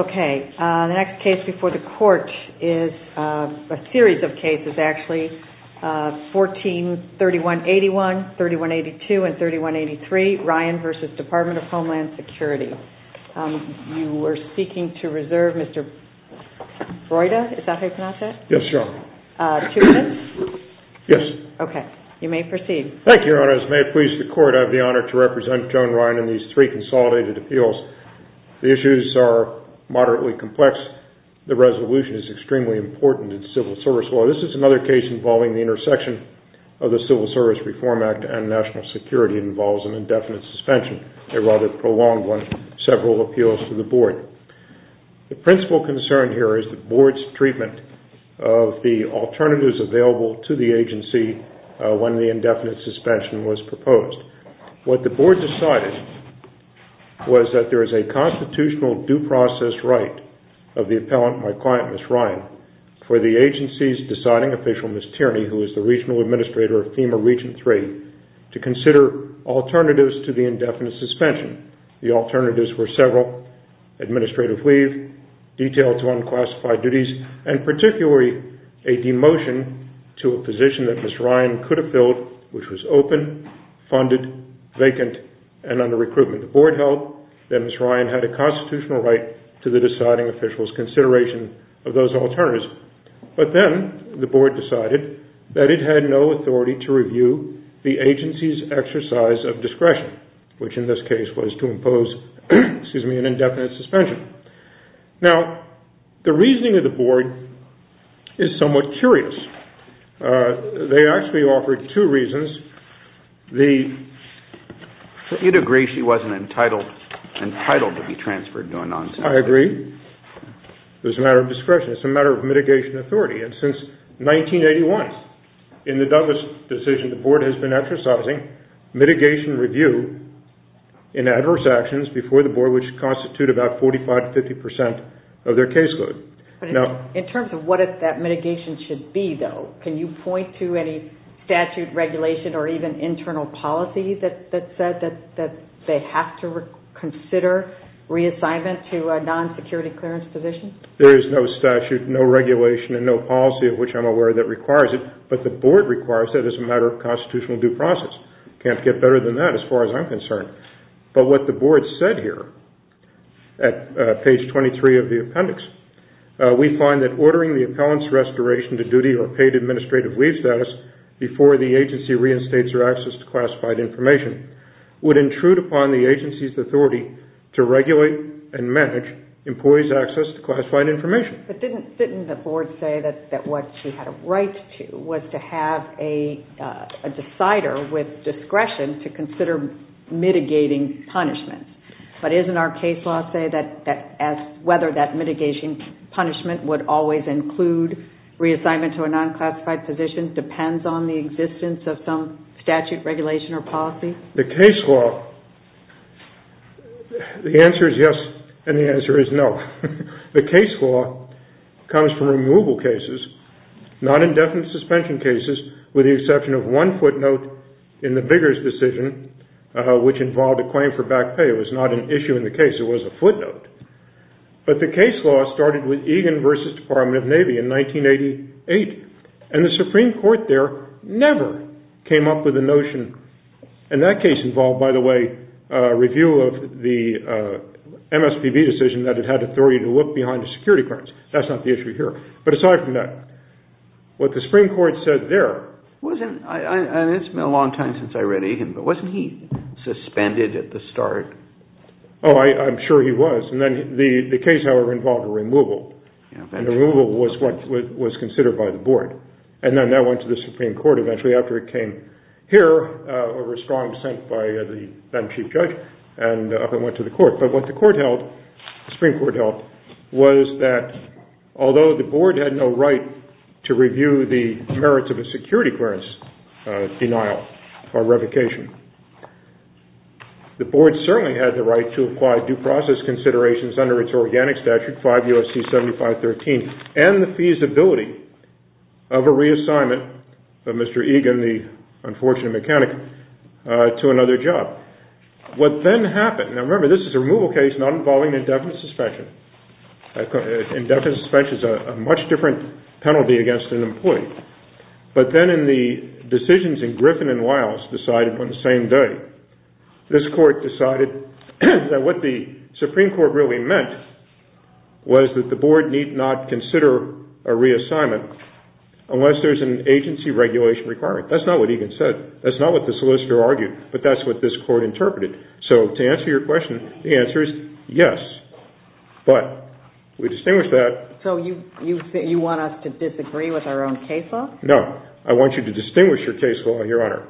Okay. The next case before the court is a series of cases, actually. 14-3181, 3182, and 3183, Ryan v. Department of Homeland Security. You are seeking to reserve Mr. Broida. Is that how you pronounce that? Yes, Your Honor. Two minutes? Yes. Okay. You may proceed. Thank you, Your Honor. As may it please the Court, I have the honor to represent Joan Ryan in these three consolidated appeals. The issues are moderately complex. The resolution is extremely important in civil service law. This is another case involving the intersection of the Civil Service Reform Act and national security. It involves an indefinite suspension, a rather prolonged one, several appeals to the board. The principal concern here is the board's treatment of the alternatives available to the agency when the indefinite suspension was proposed. What the board decided was that there is a constitutional due process right of the appellant, my client, Ms. Ryan, for the agency's deciding official, Ms. Tierney, who is the regional administrator of FEMA Region 3, to consider alternatives to the indefinite suspension. The alternatives were several, administrative leave, detail to unclassified duties, and particularly a demotion to a position that Ms. Ryan could have filled, which was open, funded, vacant, and under recruitment. The board held that Ms. Ryan had a constitutional right to the deciding official's consideration of those alternatives. But then the board decided that it had no authority to review the agency's exercise of discretion, which in this case was to impose an indefinite suspension. Now, the reasoning of the board is somewhat curious. They actually offered two reasons. You'd agree she wasn't entitled to be transferred, going on and on. I agree. It was a matter of discretion. It's a matter of mitigation authority. And since 1981, in the Douglas decision, the board has been exercising mitigation review in adverse actions before the board, which constitute about 45 to 50 percent of their caseload. In terms of what that mitigation should be, though, can you point to any statute, regulation, or even internal policy that said that they have to consider reassignment to a non-security clearance position? There is no statute, no regulation, and no policy of which I'm aware that requires it. But the board requires it as a matter of constitutional due process. It can't get better than that as far as I'm concerned. But what the board said here at page 23 of the appendix, we find that ordering the appellant's restoration to duty or paid administrative leave status before the agency reinstates their access to classified information would intrude upon the agency's authority to regulate and manage employees' access to classified information. But didn't the board say that what she had a right to was to have a decider with discretion to consider mitigating punishment? But isn't our case law say that whether that mitigation punishment would always include reassignment to a non-classified position depends on the existence of some statute, regulation, or policy? The case law, the answer is yes, and the answer is no. The case law comes from removal cases, non-indefinite suspension cases, with the exception of one footnote in the Biggers decision, which involved a claim for back pay. It was not an issue in the case. It was a footnote. But the case law started with Egan v. Department of Navy in 1988, and the Supreme Court there never came up with a notion, and that case involved, by the way, a review of the MSPB decision that it had authority to look behind the security clearance. That's not the issue here. But aside from that, what the Supreme Court said there— It's been a long time since I read Egan, but wasn't he suspended at the start? Oh, I'm sure he was. And then the case, however, involved a removal, and the removal was considered by the board. And then that went to the Supreme Court eventually after it came here, over a strong dissent by the then Chief Judge, and went to the court. But what the Supreme Court held was that although the board had no right to review the merits of a security clearance denial or revocation, the board certainly had the right to apply due process considerations under its organic statute, 5 U.S.C. 7513, and the feasibility of a reassignment of Mr. Egan, the unfortunate mechanic, to another job. What then happened—now remember, this is a removal case not involving indefinite suspension. Indefinite suspension is a much different penalty against an employee. But then in the decisions in Griffin and Wiles decided on the same day, this court decided that what the Supreme Court really meant was that the board need not consider a reassignment unless there's an agency regulation requirement. That's not what Egan said. That's not what the solicitor argued. But that's what this court interpreted. So to answer your question, the answer is yes. But we distinguish that— So you want us to disagree with our own case law? No. I want you to distinguish your case law, Your Honor.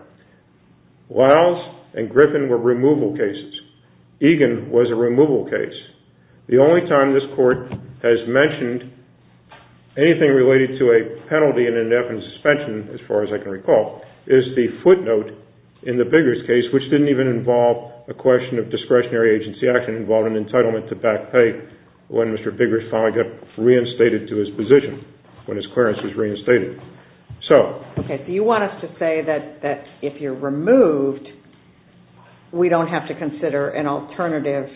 Wiles and Griffin were removal cases. Egan was a removal case. The only time this court has mentioned anything related to a penalty in indefinite suspension, as far as I can recall, is the footnote in the Biggers case, which didn't even involve a question of discretionary agency action. It involved an entitlement to back pay when Mr. Biggers finally got reinstated to his position, when his clearance was reinstated. Okay. So you want us to say that if you're removed, we don't have to consider an alternative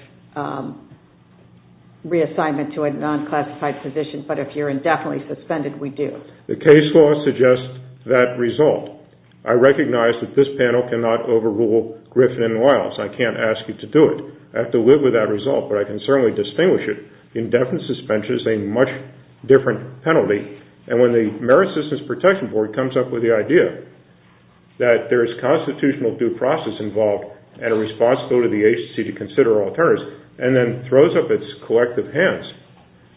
reassignment to a non-classified position, but if you're indefinitely suspended, we do? The case law suggests that result. I recognize that this panel cannot overrule Griffin and Wiles. I can't ask you to do it. I have to live with that result, but I can certainly distinguish it. Indefinite suspension is a much different penalty. And when the Merit Systems Protection Board comes up with the idea that there is constitutional due process involved and a responsibility to the agency to consider alternatives, and then throws up its collective hands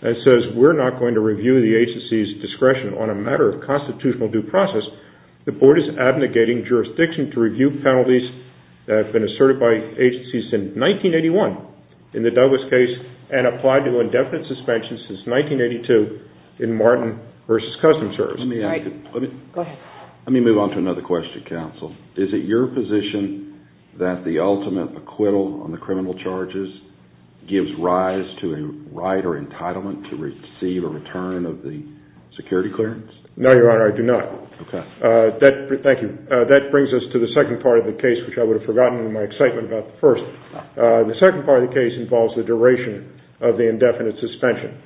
and says we're not going to review the agency's discretion on a matter of constitutional due process, the board is abnegating jurisdiction to review penalties that have been asserted by agencies since 1981 in the Douglas case and applied to indefinite suspension since 1982 in Martin v. Customs Service. Let me move on to another question, counsel. Is it your position that the ultimate acquittal on the criminal charges gives rise to a right or entitlement to receive a return of the security clearance? No, Your Honor, I do not. Okay. Thank you. That brings us to the second part of the case, which I would have forgotten in my excitement about the first. The second part of the case involves the duration of the indefinite suspension.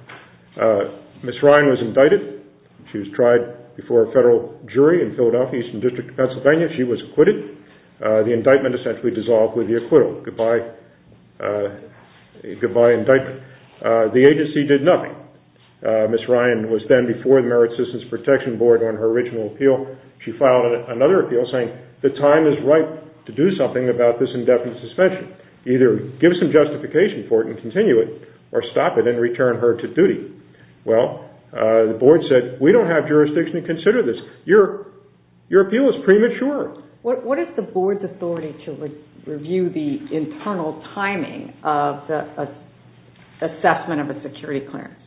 Ms. Ryan was indicted. She was tried before a federal jury in Philadelphia, Eastern District of Pennsylvania. She was acquitted. The indictment essentially dissolved with the acquittal. Goodbye indictment. The agency did nothing. Ms. Ryan was then before the Merit Systems Protection Board on her original appeal. She filed another appeal saying the time is ripe to do something about this indefinite suspension. Either give some justification for it and continue it, or stop it and return her to duty. Well, the board said, we don't have jurisdiction to consider this. Your appeal is premature. What is the board's authority to review the internal timing of the assessment of a security clearance?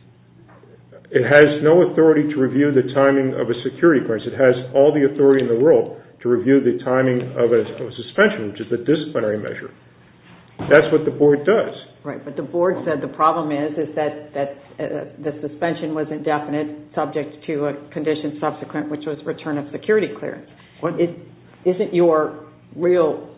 It has no authority to review the timing of a security clearance. It has all the authority in the world to review the timing of a suspension, which is a disciplinary measure. That's what the board does. Right, but the board said the problem is that the suspension was indefinite, subject to a condition subsequent, which was return of security clearance. Isn't your real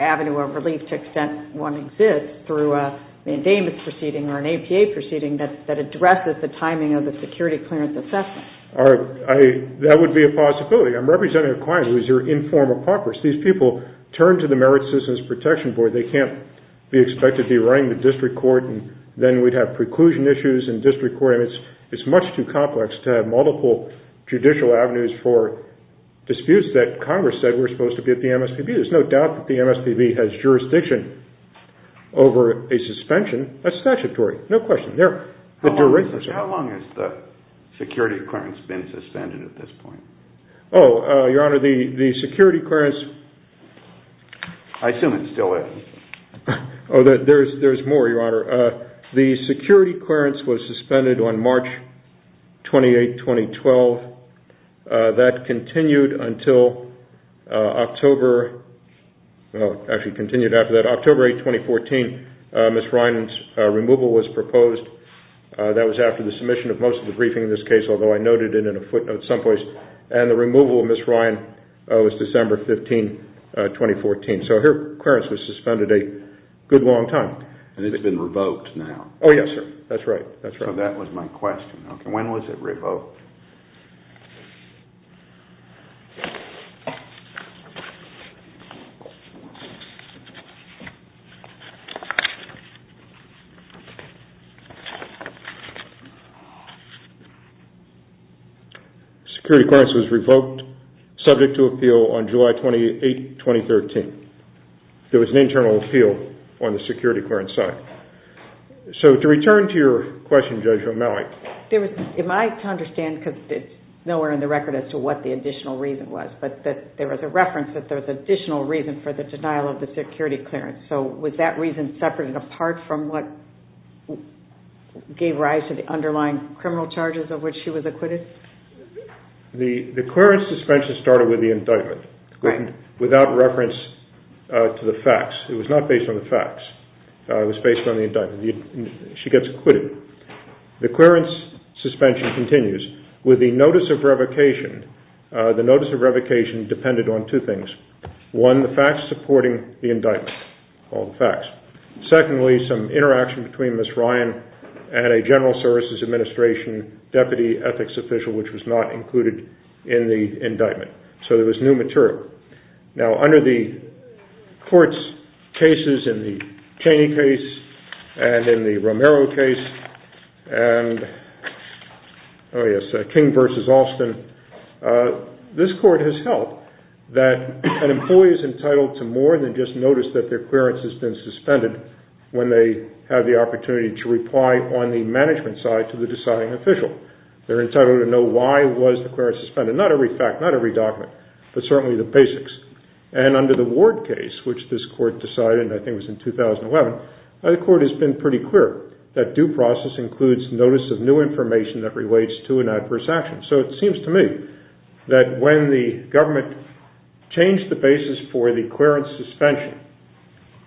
avenue of relief to extent one exists through an indainment proceeding or an APA proceeding that addresses the timing of the security clearance assessment? That would be a possibility. I'm representing a client who is your informed apocris. These people turn to the Merit Citizens Protection Board. They can't be expected to be running the district court, and then we'd have preclusion issues in district court. It's much too complex to have multiple judicial avenues for disputes that Congress said were supposed to be at the MSPB. There's no doubt that the MSPB has jurisdiction over a suspension. That's statutory. No question. How long has the security clearance been suspended at this point? Your Honor, the security clearance- I assume it still is. There's more, Your Honor. The security clearance was suspended on March 28, 2012. That continued until October 8, 2014. Ms. Ryan's removal was proposed. That was after the submission of most of the briefing in this case, although I noted it in a footnote someplace. And the removal of Ms. Ryan was December 15, 2014. So her clearance was suspended a good long time. And it's been revoked now? Oh, yes, sir. That's right. So that was my question. When was it revoked? The security clearance was revoked, subject to appeal on July 28, 2013. There was an internal appeal on the security clearance side. So to return to your question, Judge O'Malley- Am I to understand, because it's nowhere in the record as to what the additional reason was, but there was a reference that there was an additional reason for the denial of the security clearance. So was that reason separated apart from what- gave rise to the underlying criminal charges of which she was acquitted? The clearance suspension started with the indictment, without reference to the facts. It was not based on the facts. It was based on the indictment. She gets acquitted. The clearance suspension continues with the notice of revocation. The notice of revocation depended on two things. One, the facts supporting the indictment, all the facts. Secondly, some interaction between Ms. Ryan and a General Services Administration deputy ethics official, which was not included in the indictment. So there was new material. Now, under the court's cases, in the Chaney case, and in the Romero case, and, oh, yes, King v. Alston, this court has held that an employee is entitled to more than just notice that their clearance has been suspended when they have the opportunity to reply on the management side to the deciding official. They're entitled to know why was the clearance suspended. Not every fact, not every document, but certainly the basics. And under the Ward case, which this court decided, I think it was in 2011, the court has been pretty clear that due process includes notice of new information that relates to an adverse action. So it seems to me that when the government changed the basis for the clearance suspension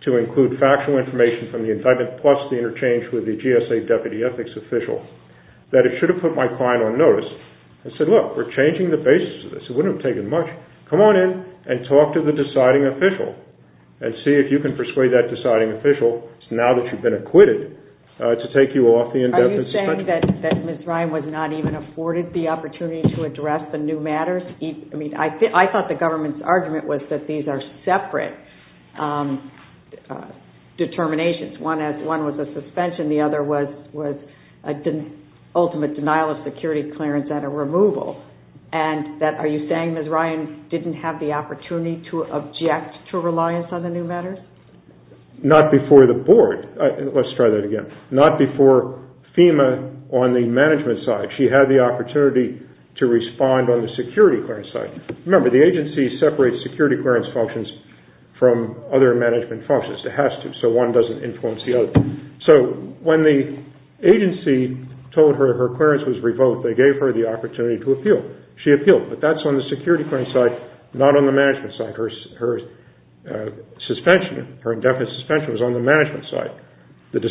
to include factual information from the indictment plus the interchange with the GSA deputy ethics official, that it should have put my client on notice and said, look, we're changing the basis of this. It wouldn't have taken much. Come on in and talk to the deciding official and see if you can persuade that deciding official, Are you saying that Ms. Ryan was not even afforded the opportunity to address the new matters? I mean, I thought the government's argument was that these are separate determinations. One was a suspension. The other was an ultimate denial of security clearance and a removal. And are you saying Ms. Ryan didn't have the opportunity to object to reliance on the new matters? Not before the board. Let's try that again. Not before FEMA on the management side. She had the opportunity to respond on the security clearance side. Remember, the agency separates security clearance functions from other management functions. It has to, so one doesn't influence the other. So when the agency told her her clearance was revoked, they gave her the opportunity to appeal. She appealed, but that's on the security clearance side, not on the management side. Her suspension, her indefinite suspension was on the management side. That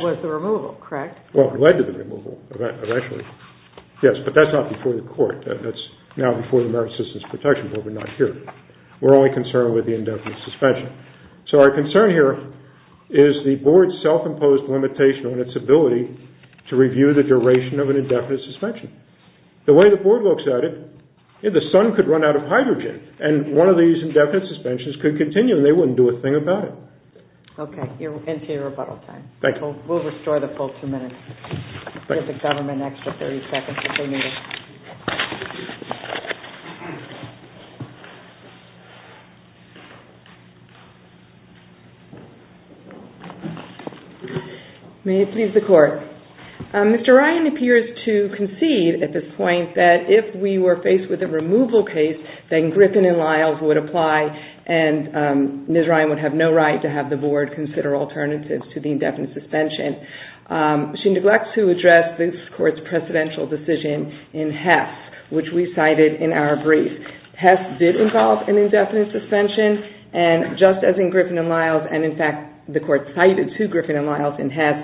was the removal, correct? Well, it led to the removal, eventually. Yes, but that's not before the court. That's now before the Merit Systems Protection Board, but not here. We're only concerned with the indefinite suspension. So our concern here is the board's self-imposed limitation on its ability to review the duration of an indefinite suspension. The way the board looks at it, the sun could run out of hydrogen, and one of these indefinite suspensions could continue, and they wouldn't do a thing about it. Okay. Into your rebuttal time. Thank you. We'll restore the full two minutes. We'll give the government an extra 30 seconds if they need it. May it please the Court. Mr. Ryan appears to concede at this point that if we were faced with a removal case, then Griffin and Lyles would apply, and Ms. Ryan would have no right to have the board consider alternatives to the indefinite suspension. She neglects to address this Court's precedential decision in Hess, which we cited in our brief. Hess did involve an indefinite suspension, and just as in Griffin and Lyles, and in fact the Court cited two Griffin and Lyles in Hess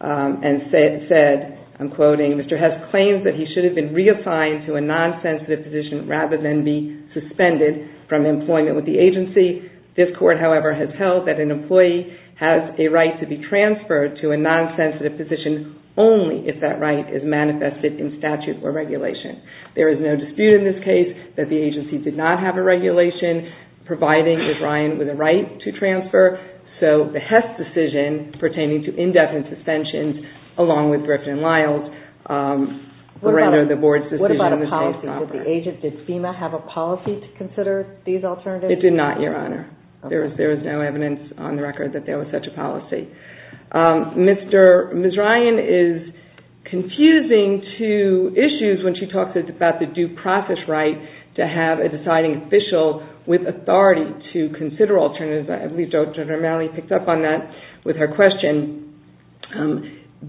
and said, I'm quoting, Mr. Hess claims that he should have been reassigned to a non-sensitive position rather than be suspended from employment with the agency. This Court, however, has held that an employee has a right to be transferred to a non-sensitive position only if that right is manifested in statute or regulation. There is no dispute in this case that the agency did not have a regulation providing Ms. Ryan with a right to transfer. So the Hess decision pertaining to indefinite suspensions, along with Griffin and Lyles, render the board's decision a misplaced offer. What about a policy? Did FEMA have a policy to consider these alternatives? It did not, Your Honor. There is no evidence on the record that there was such a policy. Ms. Ryan is confusing two issues when she talks about the due process right to have a deciding official with authority to consider alternatives. I believe Dr. Romali picked up on that with her question.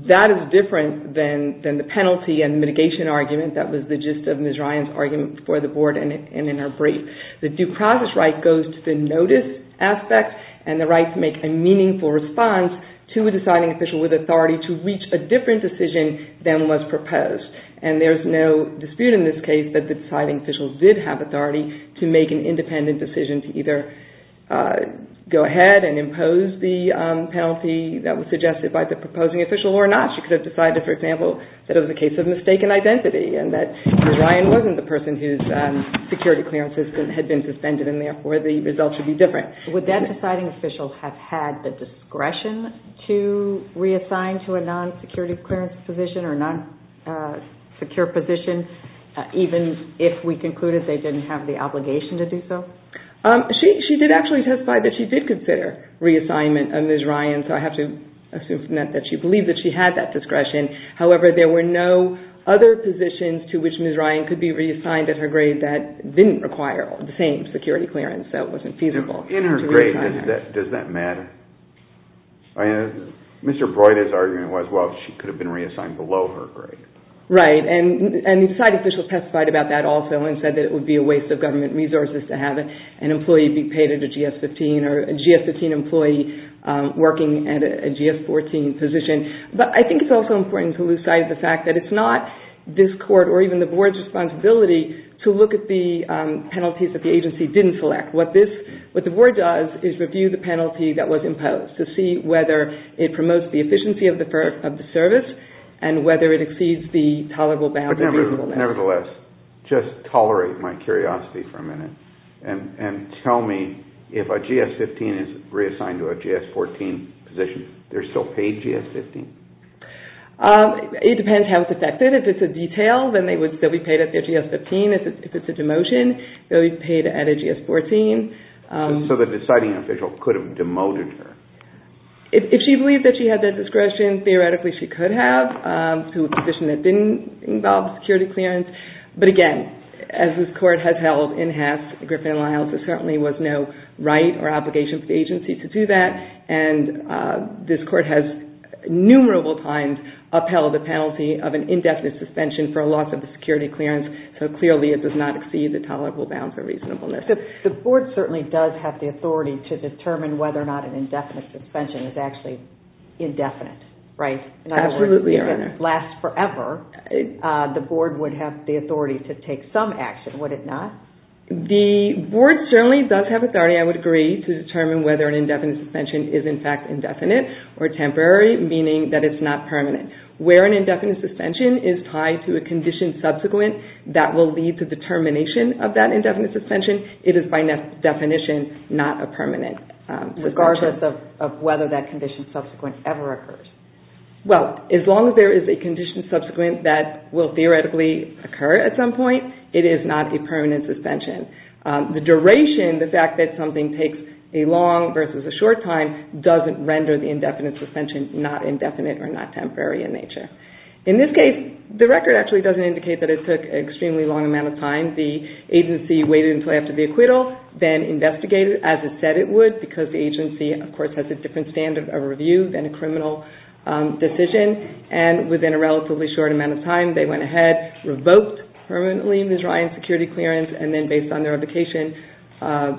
That is different than the penalty and mitigation argument that was the gist of Ms. Ryan's argument before the board and in her brief. The due process right goes to the notice aspect and the right to make a meaningful response to a deciding official with authority to reach a different decision than was proposed. There is no dispute in this case that the deciding official did have authority to make an independent decision to either go ahead and impose the penalty that was suggested by the proposing official or not. She could have decided, for example, that it was a case of mistaken identity and that Ms. Ryan wasn't the person whose security clearance had been suspended and therefore the result should be different. Would that deciding official have had the discretion to reassign to a non-security clearance position or a non-secure position even if we concluded they didn't have the obligation to do so? She did actually testify that she did consider reassignment of Ms. Ryan, so I have to assume from that that she believed that she had that discretion. However, there were no other positions to which Ms. Ryan could be reassigned at her grade that didn't require the same security clearance. So it wasn't feasible. In her grade, does that matter? Mr. Broida's argument was, well, she could have been reassigned below her grade. Right, and the deciding official testified about that also and said that it would be a waste of government resources to have an employee be paid at a GS-15 or a GS-15 employee working at a GS-14 position. But I think it's also important to lose sight of the fact that it's not this Court or even the Board's responsibility to look at the penalties that the agency didn't select. What the Board does is review the penalty that was imposed to see whether it promotes the efficiency of the service and whether it exceeds the tolerable bound or reasonable bound. Nevertheless, just tolerate my curiosity for a minute and tell me if a GS-15 is reassigned to a GS-14 position, they're still paid GS-15? It depends how it's affected. If it's a detail, they'll be paid at their GS-15. If it's a demotion, they'll be paid at a GS-14. So the deciding official could have demoted her? If she believed that she had that discretion, theoretically she could have to a position that didn't involve security clearance. But again, as this Court has held in Hess, Griffin-Lyles, there certainly was no right or obligation for the agency to do that. And this Court has numerable times upheld the penalty of an indefinite suspension for a loss of the security clearance. So clearly it does not exceed the tolerable bound for reasonableness. The Board certainly does have the authority to determine whether or not an indefinite suspension is actually indefinite, right? Absolutely, Your Honor. In other words, if it lasts forever, the Board would have the authority to take some action, would it not? The Board certainly does have authority, I would agree, to determine whether an indefinite suspension is in fact indefinite or temporary, meaning that it's not permanent. Where an indefinite suspension is tied to a condition subsequent that will lead to the termination of that indefinite suspension, it is by definition not a permanent suspension. Regardless of whether that condition subsequent ever occurs? Well, as long as there is a condition subsequent that will theoretically occur at some point, it is not a permanent suspension. The duration, the fact that something takes a long versus a short time, doesn't render the indefinite suspension not indefinite or not temporary in nature. In this case, the record actually doesn't indicate that it took an extremely long amount of time. The agency waited until after the acquittal, then investigated as it said it would because the agency, of course, has a different standard of review than a criminal decision. Within a relatively short amount of time, they went ahead, revoked permanently Ms. Ryan's security clearance, and then based on their indication,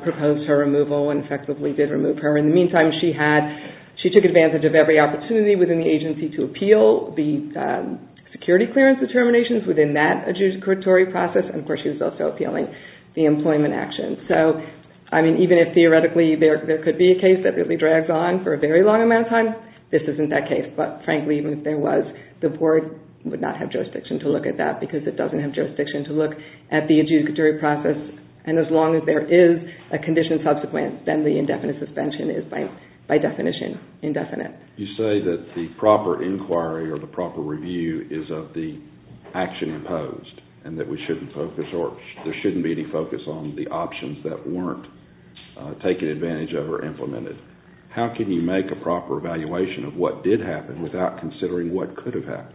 proposed her removal and effectively did remove her. In the meantime, she took advantage of every opportunity within the agency to appeal the security clearance determinations within that adjudicatory process. Of course, she was also appealing the employment action. Even if theoretically there could be a case that really drags on for a very long amount of time, this isn't that case. But frankly, even if there was, the board would not have jurisdiction to look at that because it doesn't have jurisdiction to look at the adjudicatory process. As long as there is a condition subsequent, then the indefinite suspension is by definition indefinite. You say that the proper inquiry or the proper review is of the action imposed and that we shouldn't focus or there shouldn't be any focus on the options that weren't taken advantage of or implemented. How can you make a proper evaluation of what did happen without considering what could have happened?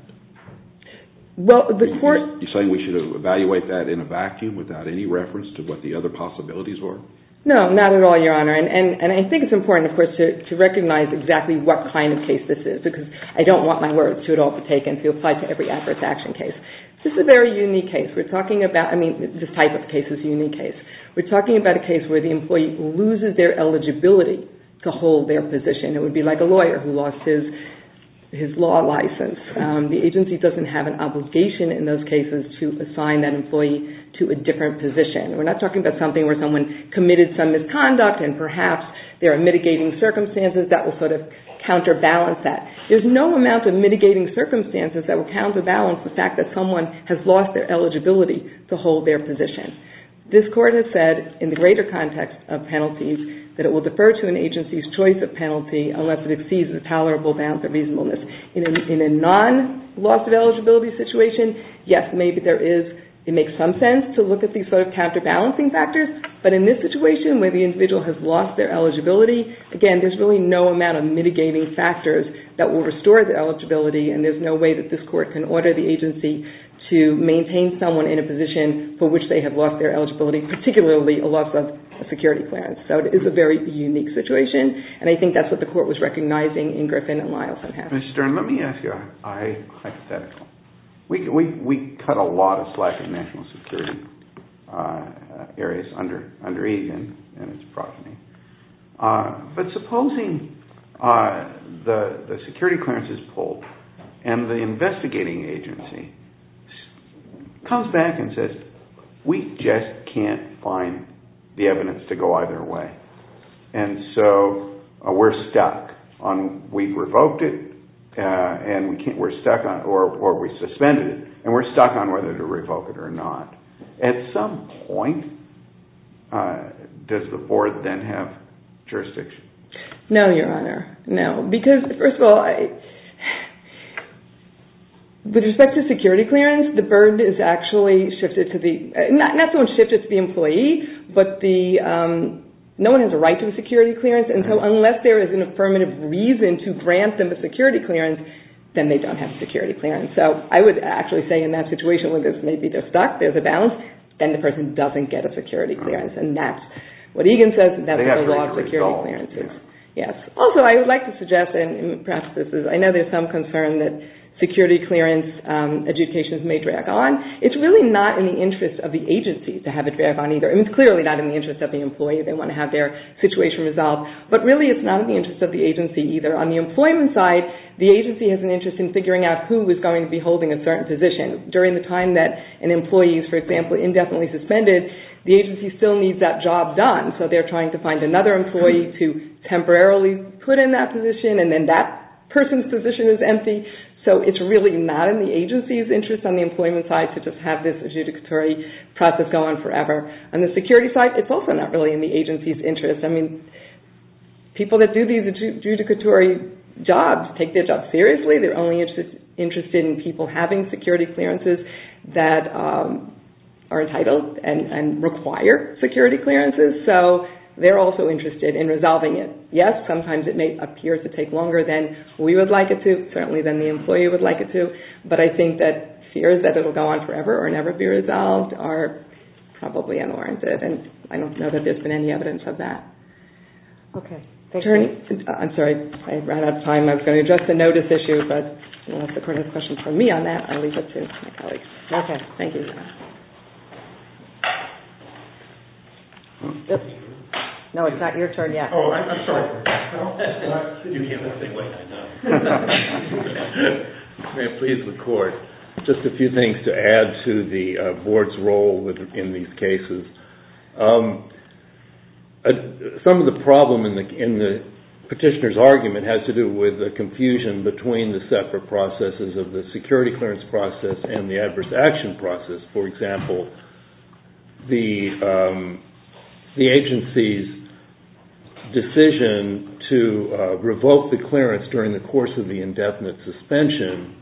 Well, the court Are you saying we should evaluate that in a vacuum without any reference to what the other possibilities were? No, not at all, Your Honor. And I think it's important, of course, to recognize exactly what kind of case this is because I don't want my words to at all be taken to apply to every adverse action case. This is a very unique case. I mean, this type of case is a unique case. We're talking about a case where the employee loses their eligibility to hold their position. It would be like a lawyer who lost his law license. The agency doesn't have an obligation in those cases to assign that employee to a different position. We're not talking about something where someone committed some misconduct and perhaps there are mitigating circumstances that will sort of counterbalance that. There's no amount of mitigating circumstances that will counterbalance the fact that someone has lost their eligibility to hold their position. This Court has said in the greater context of penalties that it will defer to an agency's choice of penalty unless it exceeds the tolerable bounds of reasonableness. In a non-loss of eligibility situation, yes, maybe it makes some sense to look at these sort of counterbalancing factors, but in this situation where the individual has lost their eligibility, again, there's really no amount of mitigating factors that will restore the eligibility and there's no way that this Court can order the agency to maintain someone in a position for which they have lost their eligibility, particularly a loss of a security clearance. So it is a very unique situation and I think that's what the Court was recognizing in Griffin and Lyleson. Mr. Stern, let me ask you a hypothetical. We cut a lot of slack in national security areas under Eden and its proximity, but supposing the security clearance is pulled and the investigating agency comes back and says we just can't find the evidence to go either way and so we're stuck on we revoked it or we suspended it and we're stuck on whether to revoke it or not. At some point, does the Board then have jurisdiction? No, Your Honor, no, because first of all, with respect to security clearance, the Board is actually shifted to the, not so much shifted to the employee, but no one has a right to a security clearance and so unless there is an affirmative reason to grant them a security clearance, then they don't have a security clearance. So I would actually say in that situation where maybe they're stuck, there's a balance, then the person doesn't get a security clearance and that's what Eden says, that's the law of security clearances. Also, I would like to suggest and perhaps this is, I know there's some concern that security clearance adjudications may drag on. It's really not in the interest of the agency to have it drag on either. It's clearly not in the interest of the employee. They want to have their situation resolved, but really it's not in the interest of the agency either. On the employment side, the agency has an interest in figuring out who is going to be holding a certain position. During the time that an employee is, for example, indefinitely suspended, the agency still needs that job done so they're trying to find another employee to temporarily put in that position and then that person's position is empty. So it's really not in the agency's interest on the employment side to just have this adjudicatory process go on forever. On the security side, it's also not really in the agency's interest. I mean, people that do these adjudicatory jobs take their jobs seriously. They're only interested in people having security clearances that are entitled and require security clearances. So they're also interested in resolving it. Yes, sometimes it may appear to take longer than we would like it to, certainly than the employee would like it to, but I think that fears that it will go on forever or never be resolved are probably unwarranted and I don't know that there's been any evidence of that. Attorney, I'm sorry, I ran out of time. I was going to address the notice issue, but unless the court has questions for me on that, I'll leave it to my colleagues. Okay, thank you. No, it's not your turn yet. Oh, I'm sorry. May I please, the court, just a few things to add to the board's role in these cases. Some of the problem in the petitioner's argument has to do with the confusion between the separate processes of the security clearance process and the adverse action process. For example, the agency's decision to revoke the clearance during the course of the indefinite suspension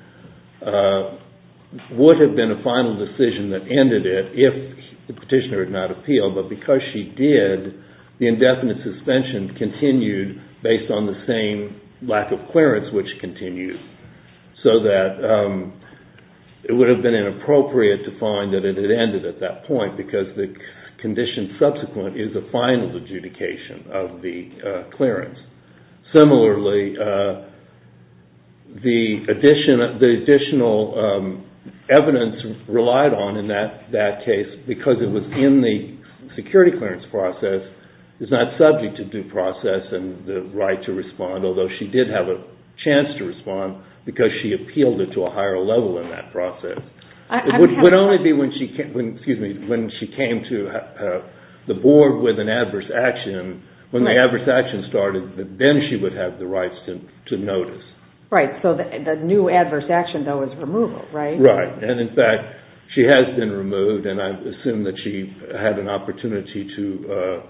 would have been a final decision that ended it if the petitioner had not appealed, but because she did, the indefinite suspension continued based on the same lack of clearance which continued, so that it would have been inappropriate to find that it had ended at that point because the condition subsequent is a final adjudication of the clearance. Similarly, the additional evidence relied on in that case because it was in the security clearance process is not subject to due process and the right to respond, although she did have a chance to respond because she appealed it to a higher level in that process. It would only be when she came to the board with an adverse action, when the adverse action started, then she would have the rights to notice. Right, so the new adverse action, though, is removal, right? Right, and in fact, she has been removed, and I assume that she had an opportunity to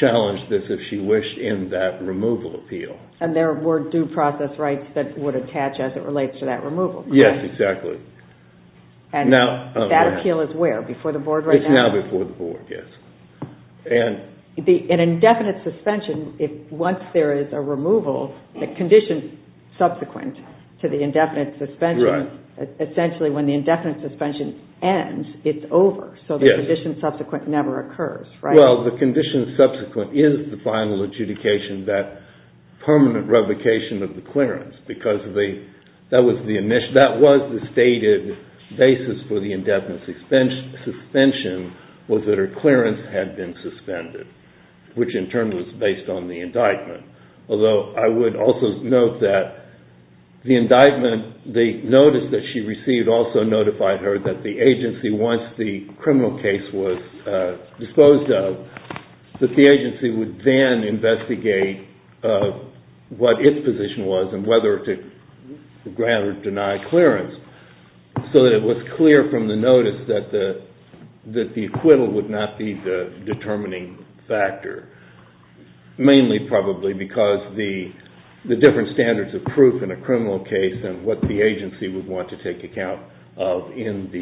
challenge this if she wished in that removal appeal. And there were due process rights that would attach as it relates to that removal, correct? Yes, exactly. And that appeal is where, before the board right now? It's now before the board, yes. An indefinite suspension, once there is a removal, the condition subsequent to the indefinite suspension, essentially when the indefinite suspension ends, it's over, so the condition subsequent never occurs, right? Well, the condition subsequent is the final adjudication, that permanent revocation of the clearance because that was the stated basis for the indefinite suspension was that her clearance had been suspended, which in turn was based on the indictment. Although, I would also note that the indictment, the notice that she received also notified her that the agency, once the criminal case was disposed of, that the agency would then investigate what its position was and whether to grant or deny clearance so that it was clear from the notice that the acquittal would not be the determining factor, mainly probably because the different standards of proof in a criminal case and what the agency would want to take account of in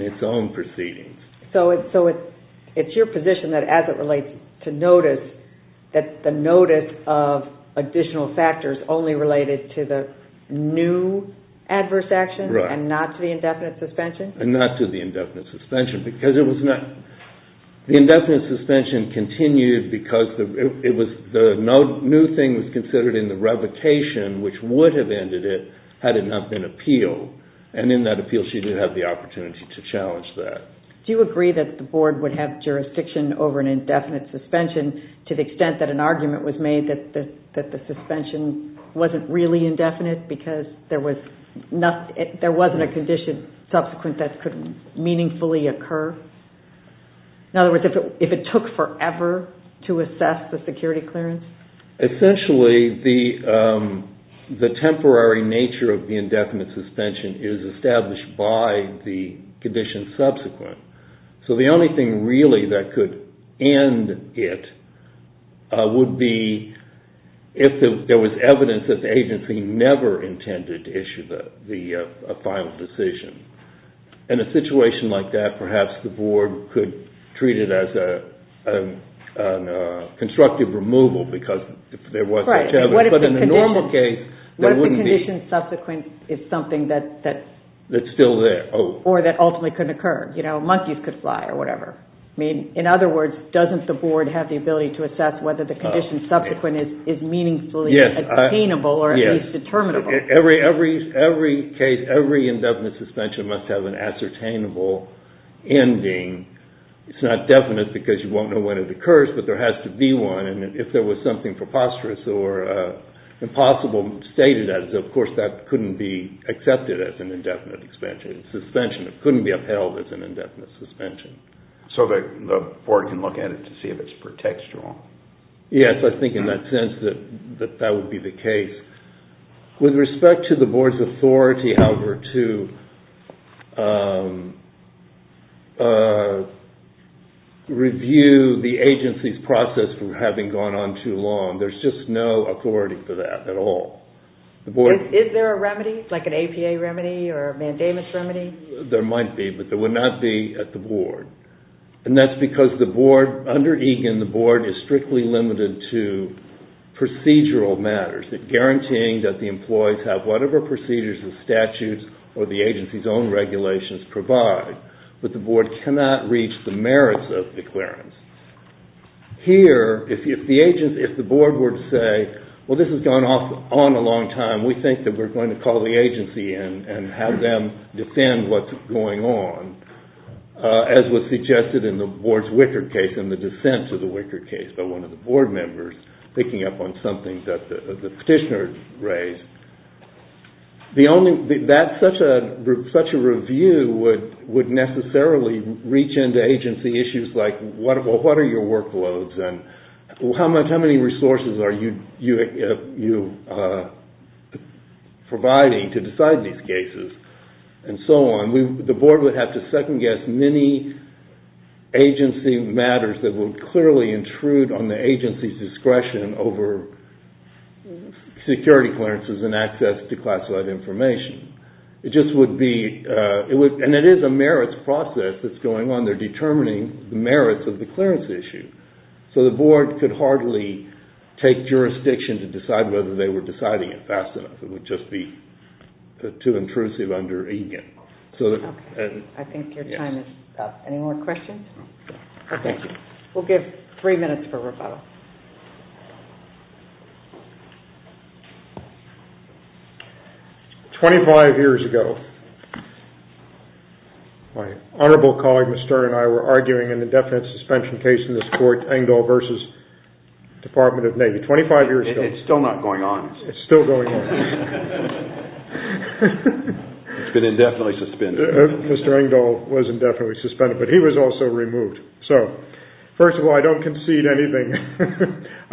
its own proceedings. So it's your position that as it relates to notice, that the notice of additional factors only related to the new adverse action and not to the indefinite suspension? The indefinite suspension continued because the new thing was considered in the revocation, which would have ended it had it not been appealed. And in that appeal, she did have the opportunity to challenge that. Do you agree that the Board would have jurisdiction over an indefinite suspension to the extent that an argument was made that the suspension wasn't really indefinite because there wasn't a condition subsequent that could meaningfully occur? In other words, if it took forever to assess the security clearance? Essentially, the temporary nature of the indefinite suspension is established by the condition subsequent. So the only thing really that could end it would be if there was evidence that the agency never intended to issue the final decision. In a situation like that, perhaps the Board could treat it as a constructive removal because there was such evidence. What if the condition subsequent is something that ultimately couldn't occur? Monkeys could fly or whatever. In other words, doesn't the Board have the ability to assess whether the condition subsequent is meaningfully attainable or at least determinable? Every indefinite suspension must have an ascertainable ending. It's not definite because you won't know when it occurs, but there has to be one. If there was something preposterous or impossible stated, of course that couldn't be accepted as an indefinite suspension. It couldn't be upheld as an indefinite suspension. So the Board can look at it to see if it's pretextual? Yes, I think in that sense that that would be the case. With respect to the Board's authority, however, to review the agency's process for having gone on too long, there's just no authority for that at all. Is there a remedy, like an APA remedy or a mandamus remedy? There might be, but there would not be at the Board. And that's because under EGAN, the Board is strictly limited to procedural matters, guaranteeing that the employees have whatever procedures the statutes or the agency's own regulations provide. But the Board cannot reach the merits of the clearance. Here, if the Board were to say, well, this has gone on a long time, we think that we're going to call the agency in and have them defend what's going on, as was suggested in the Board's Wickard case, in the dissent to the Wickard case, by one of the Board members picking up on something that the petitioner raised. Such a review would necessarily reach into agency issues like, well, what are your workloads? How many resources are you providing to decide these cases? And so on. The Board would have to second-guess many agency matters that would clearly intrude on the agency's discretion over security clearances and access to classified information. And it is a merits process that's going on. They're determining the merits of the clearance issue. So the Board could hardly take jurisdiction to decide whether they were deciding it fast enough. It would just be too intrusive under Egan. Okay. I think your time is up. Any more questions? No. Okay. Thank you. We'll give three minutes for rebuttal. Twenty-five years ago, my honorable colleague, Mr. and I, were arguing an indefinite suspension case in this court, Engdahl v. Department of Navy. Twenty-five years ago. It's still not going on. It's still going on. It's been indefinitely suspended. Mr. Engdahl was indefinitely suspended, but he was also removed. So, first of all, I don't concede anything.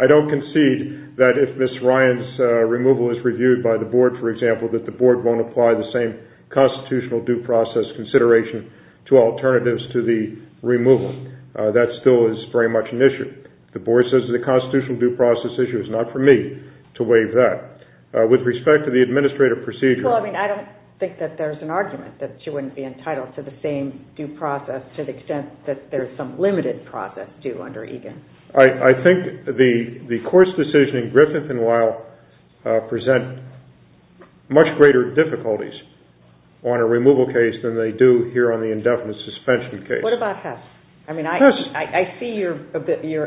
I don't concede that if Ms. Ryan's removal is reviewed by the Board, for example, that the Board won't apply the same constitutional due process consideration to alternatives to the removal. That still is very much an issue. The Board says it's a constitutional due process issue. It's not for me to waive that. With respect to the administrative procedure. Well, I mean, I don't think that there's an argument that she wouldn't be entitled to the same due process to the extent that there's some limited process due under Egan. I think the court's decision in Griffith and Weil present much greater difficulties on a removal case than they do here on the indefinite suspension case. What about Hess? Hess. I see your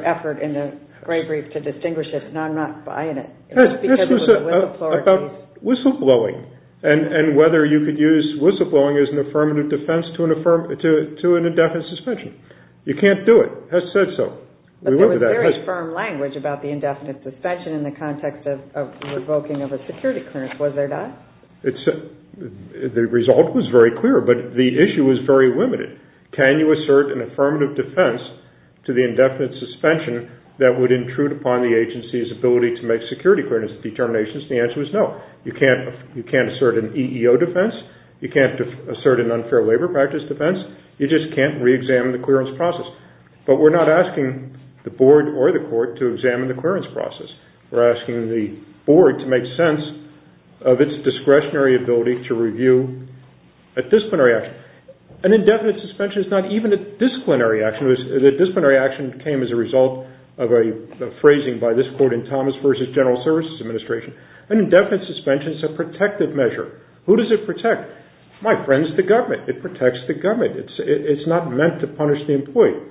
effort in the scribe brief to distinguish it, and I'm not buying it. Hess, this was about whistleblowing and whether you could use whistleblowing as an affirmative defense to an indefinite suspension. You can't do it. Hess said so. But there was very firm language about the indefinite suspension in the context of revoking of a security clearance, was there not? The result was very clear, but the issue was very limited. Can you assert an affirmative defense to the indefinite suspension that would intrude upon the agency's ability to make security clearance determinations? The answer was no. You can't assert an EEO defense. You can't assert an unfair labor practice defense. You just can't reexamine the clearance process. But we're not asking the board or the court to examine the clearance process. We're asking the board to make sense of its discretionary ability to review a disciplinary action. An indefinite suspension is not even a disciplinary action. The disciplinary action came as a result of a phrasing by this court in Thomas v. General Services Administration. An indefinite suspension is a protective measure. Who does it protect? My friends, the government. It protects the government. It's not meant to punish the employee.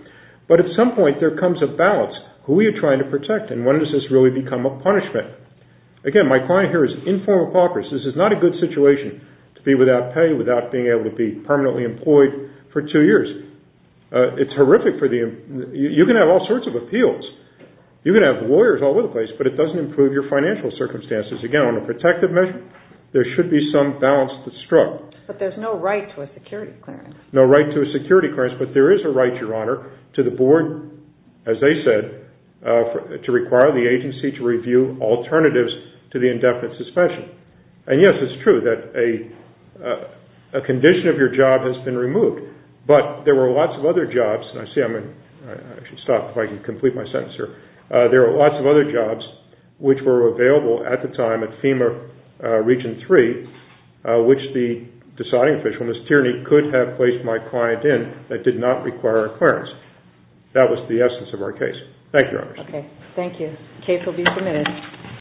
But at some point, there comes a balance. Who are you trying to protect, and when does this really become a punishment? Again, my client here is in full apocryphal. This is not a good situation to be without pay, without being able to be permanently employed for two years. It's horrific. You can have all sorts of appeals. You can have lawyers all over the place, but it doesn't improve your financial circumstances. Again, on a protective measure, there should be some balance that's struck. But there's no right to a security clearance. No right to a security clearance, but there is a right, Your Honor, to the board, as they said, to require the agency to review alternatives to the indefinite suspension. And, yes, it's true that a condition of your job has been removed, but there were lots of other jobs. I see I'm in. I should stop if I can complete my sentence here. There were lots of other jobs which were available at the time at FEMA Region 3, which the deciding official, Ms. Tierney, could have placed my client in that did not require a clearance. That was the essence of our case. Thank you, Your Honor. Okay. Thank you. Case will be submitted.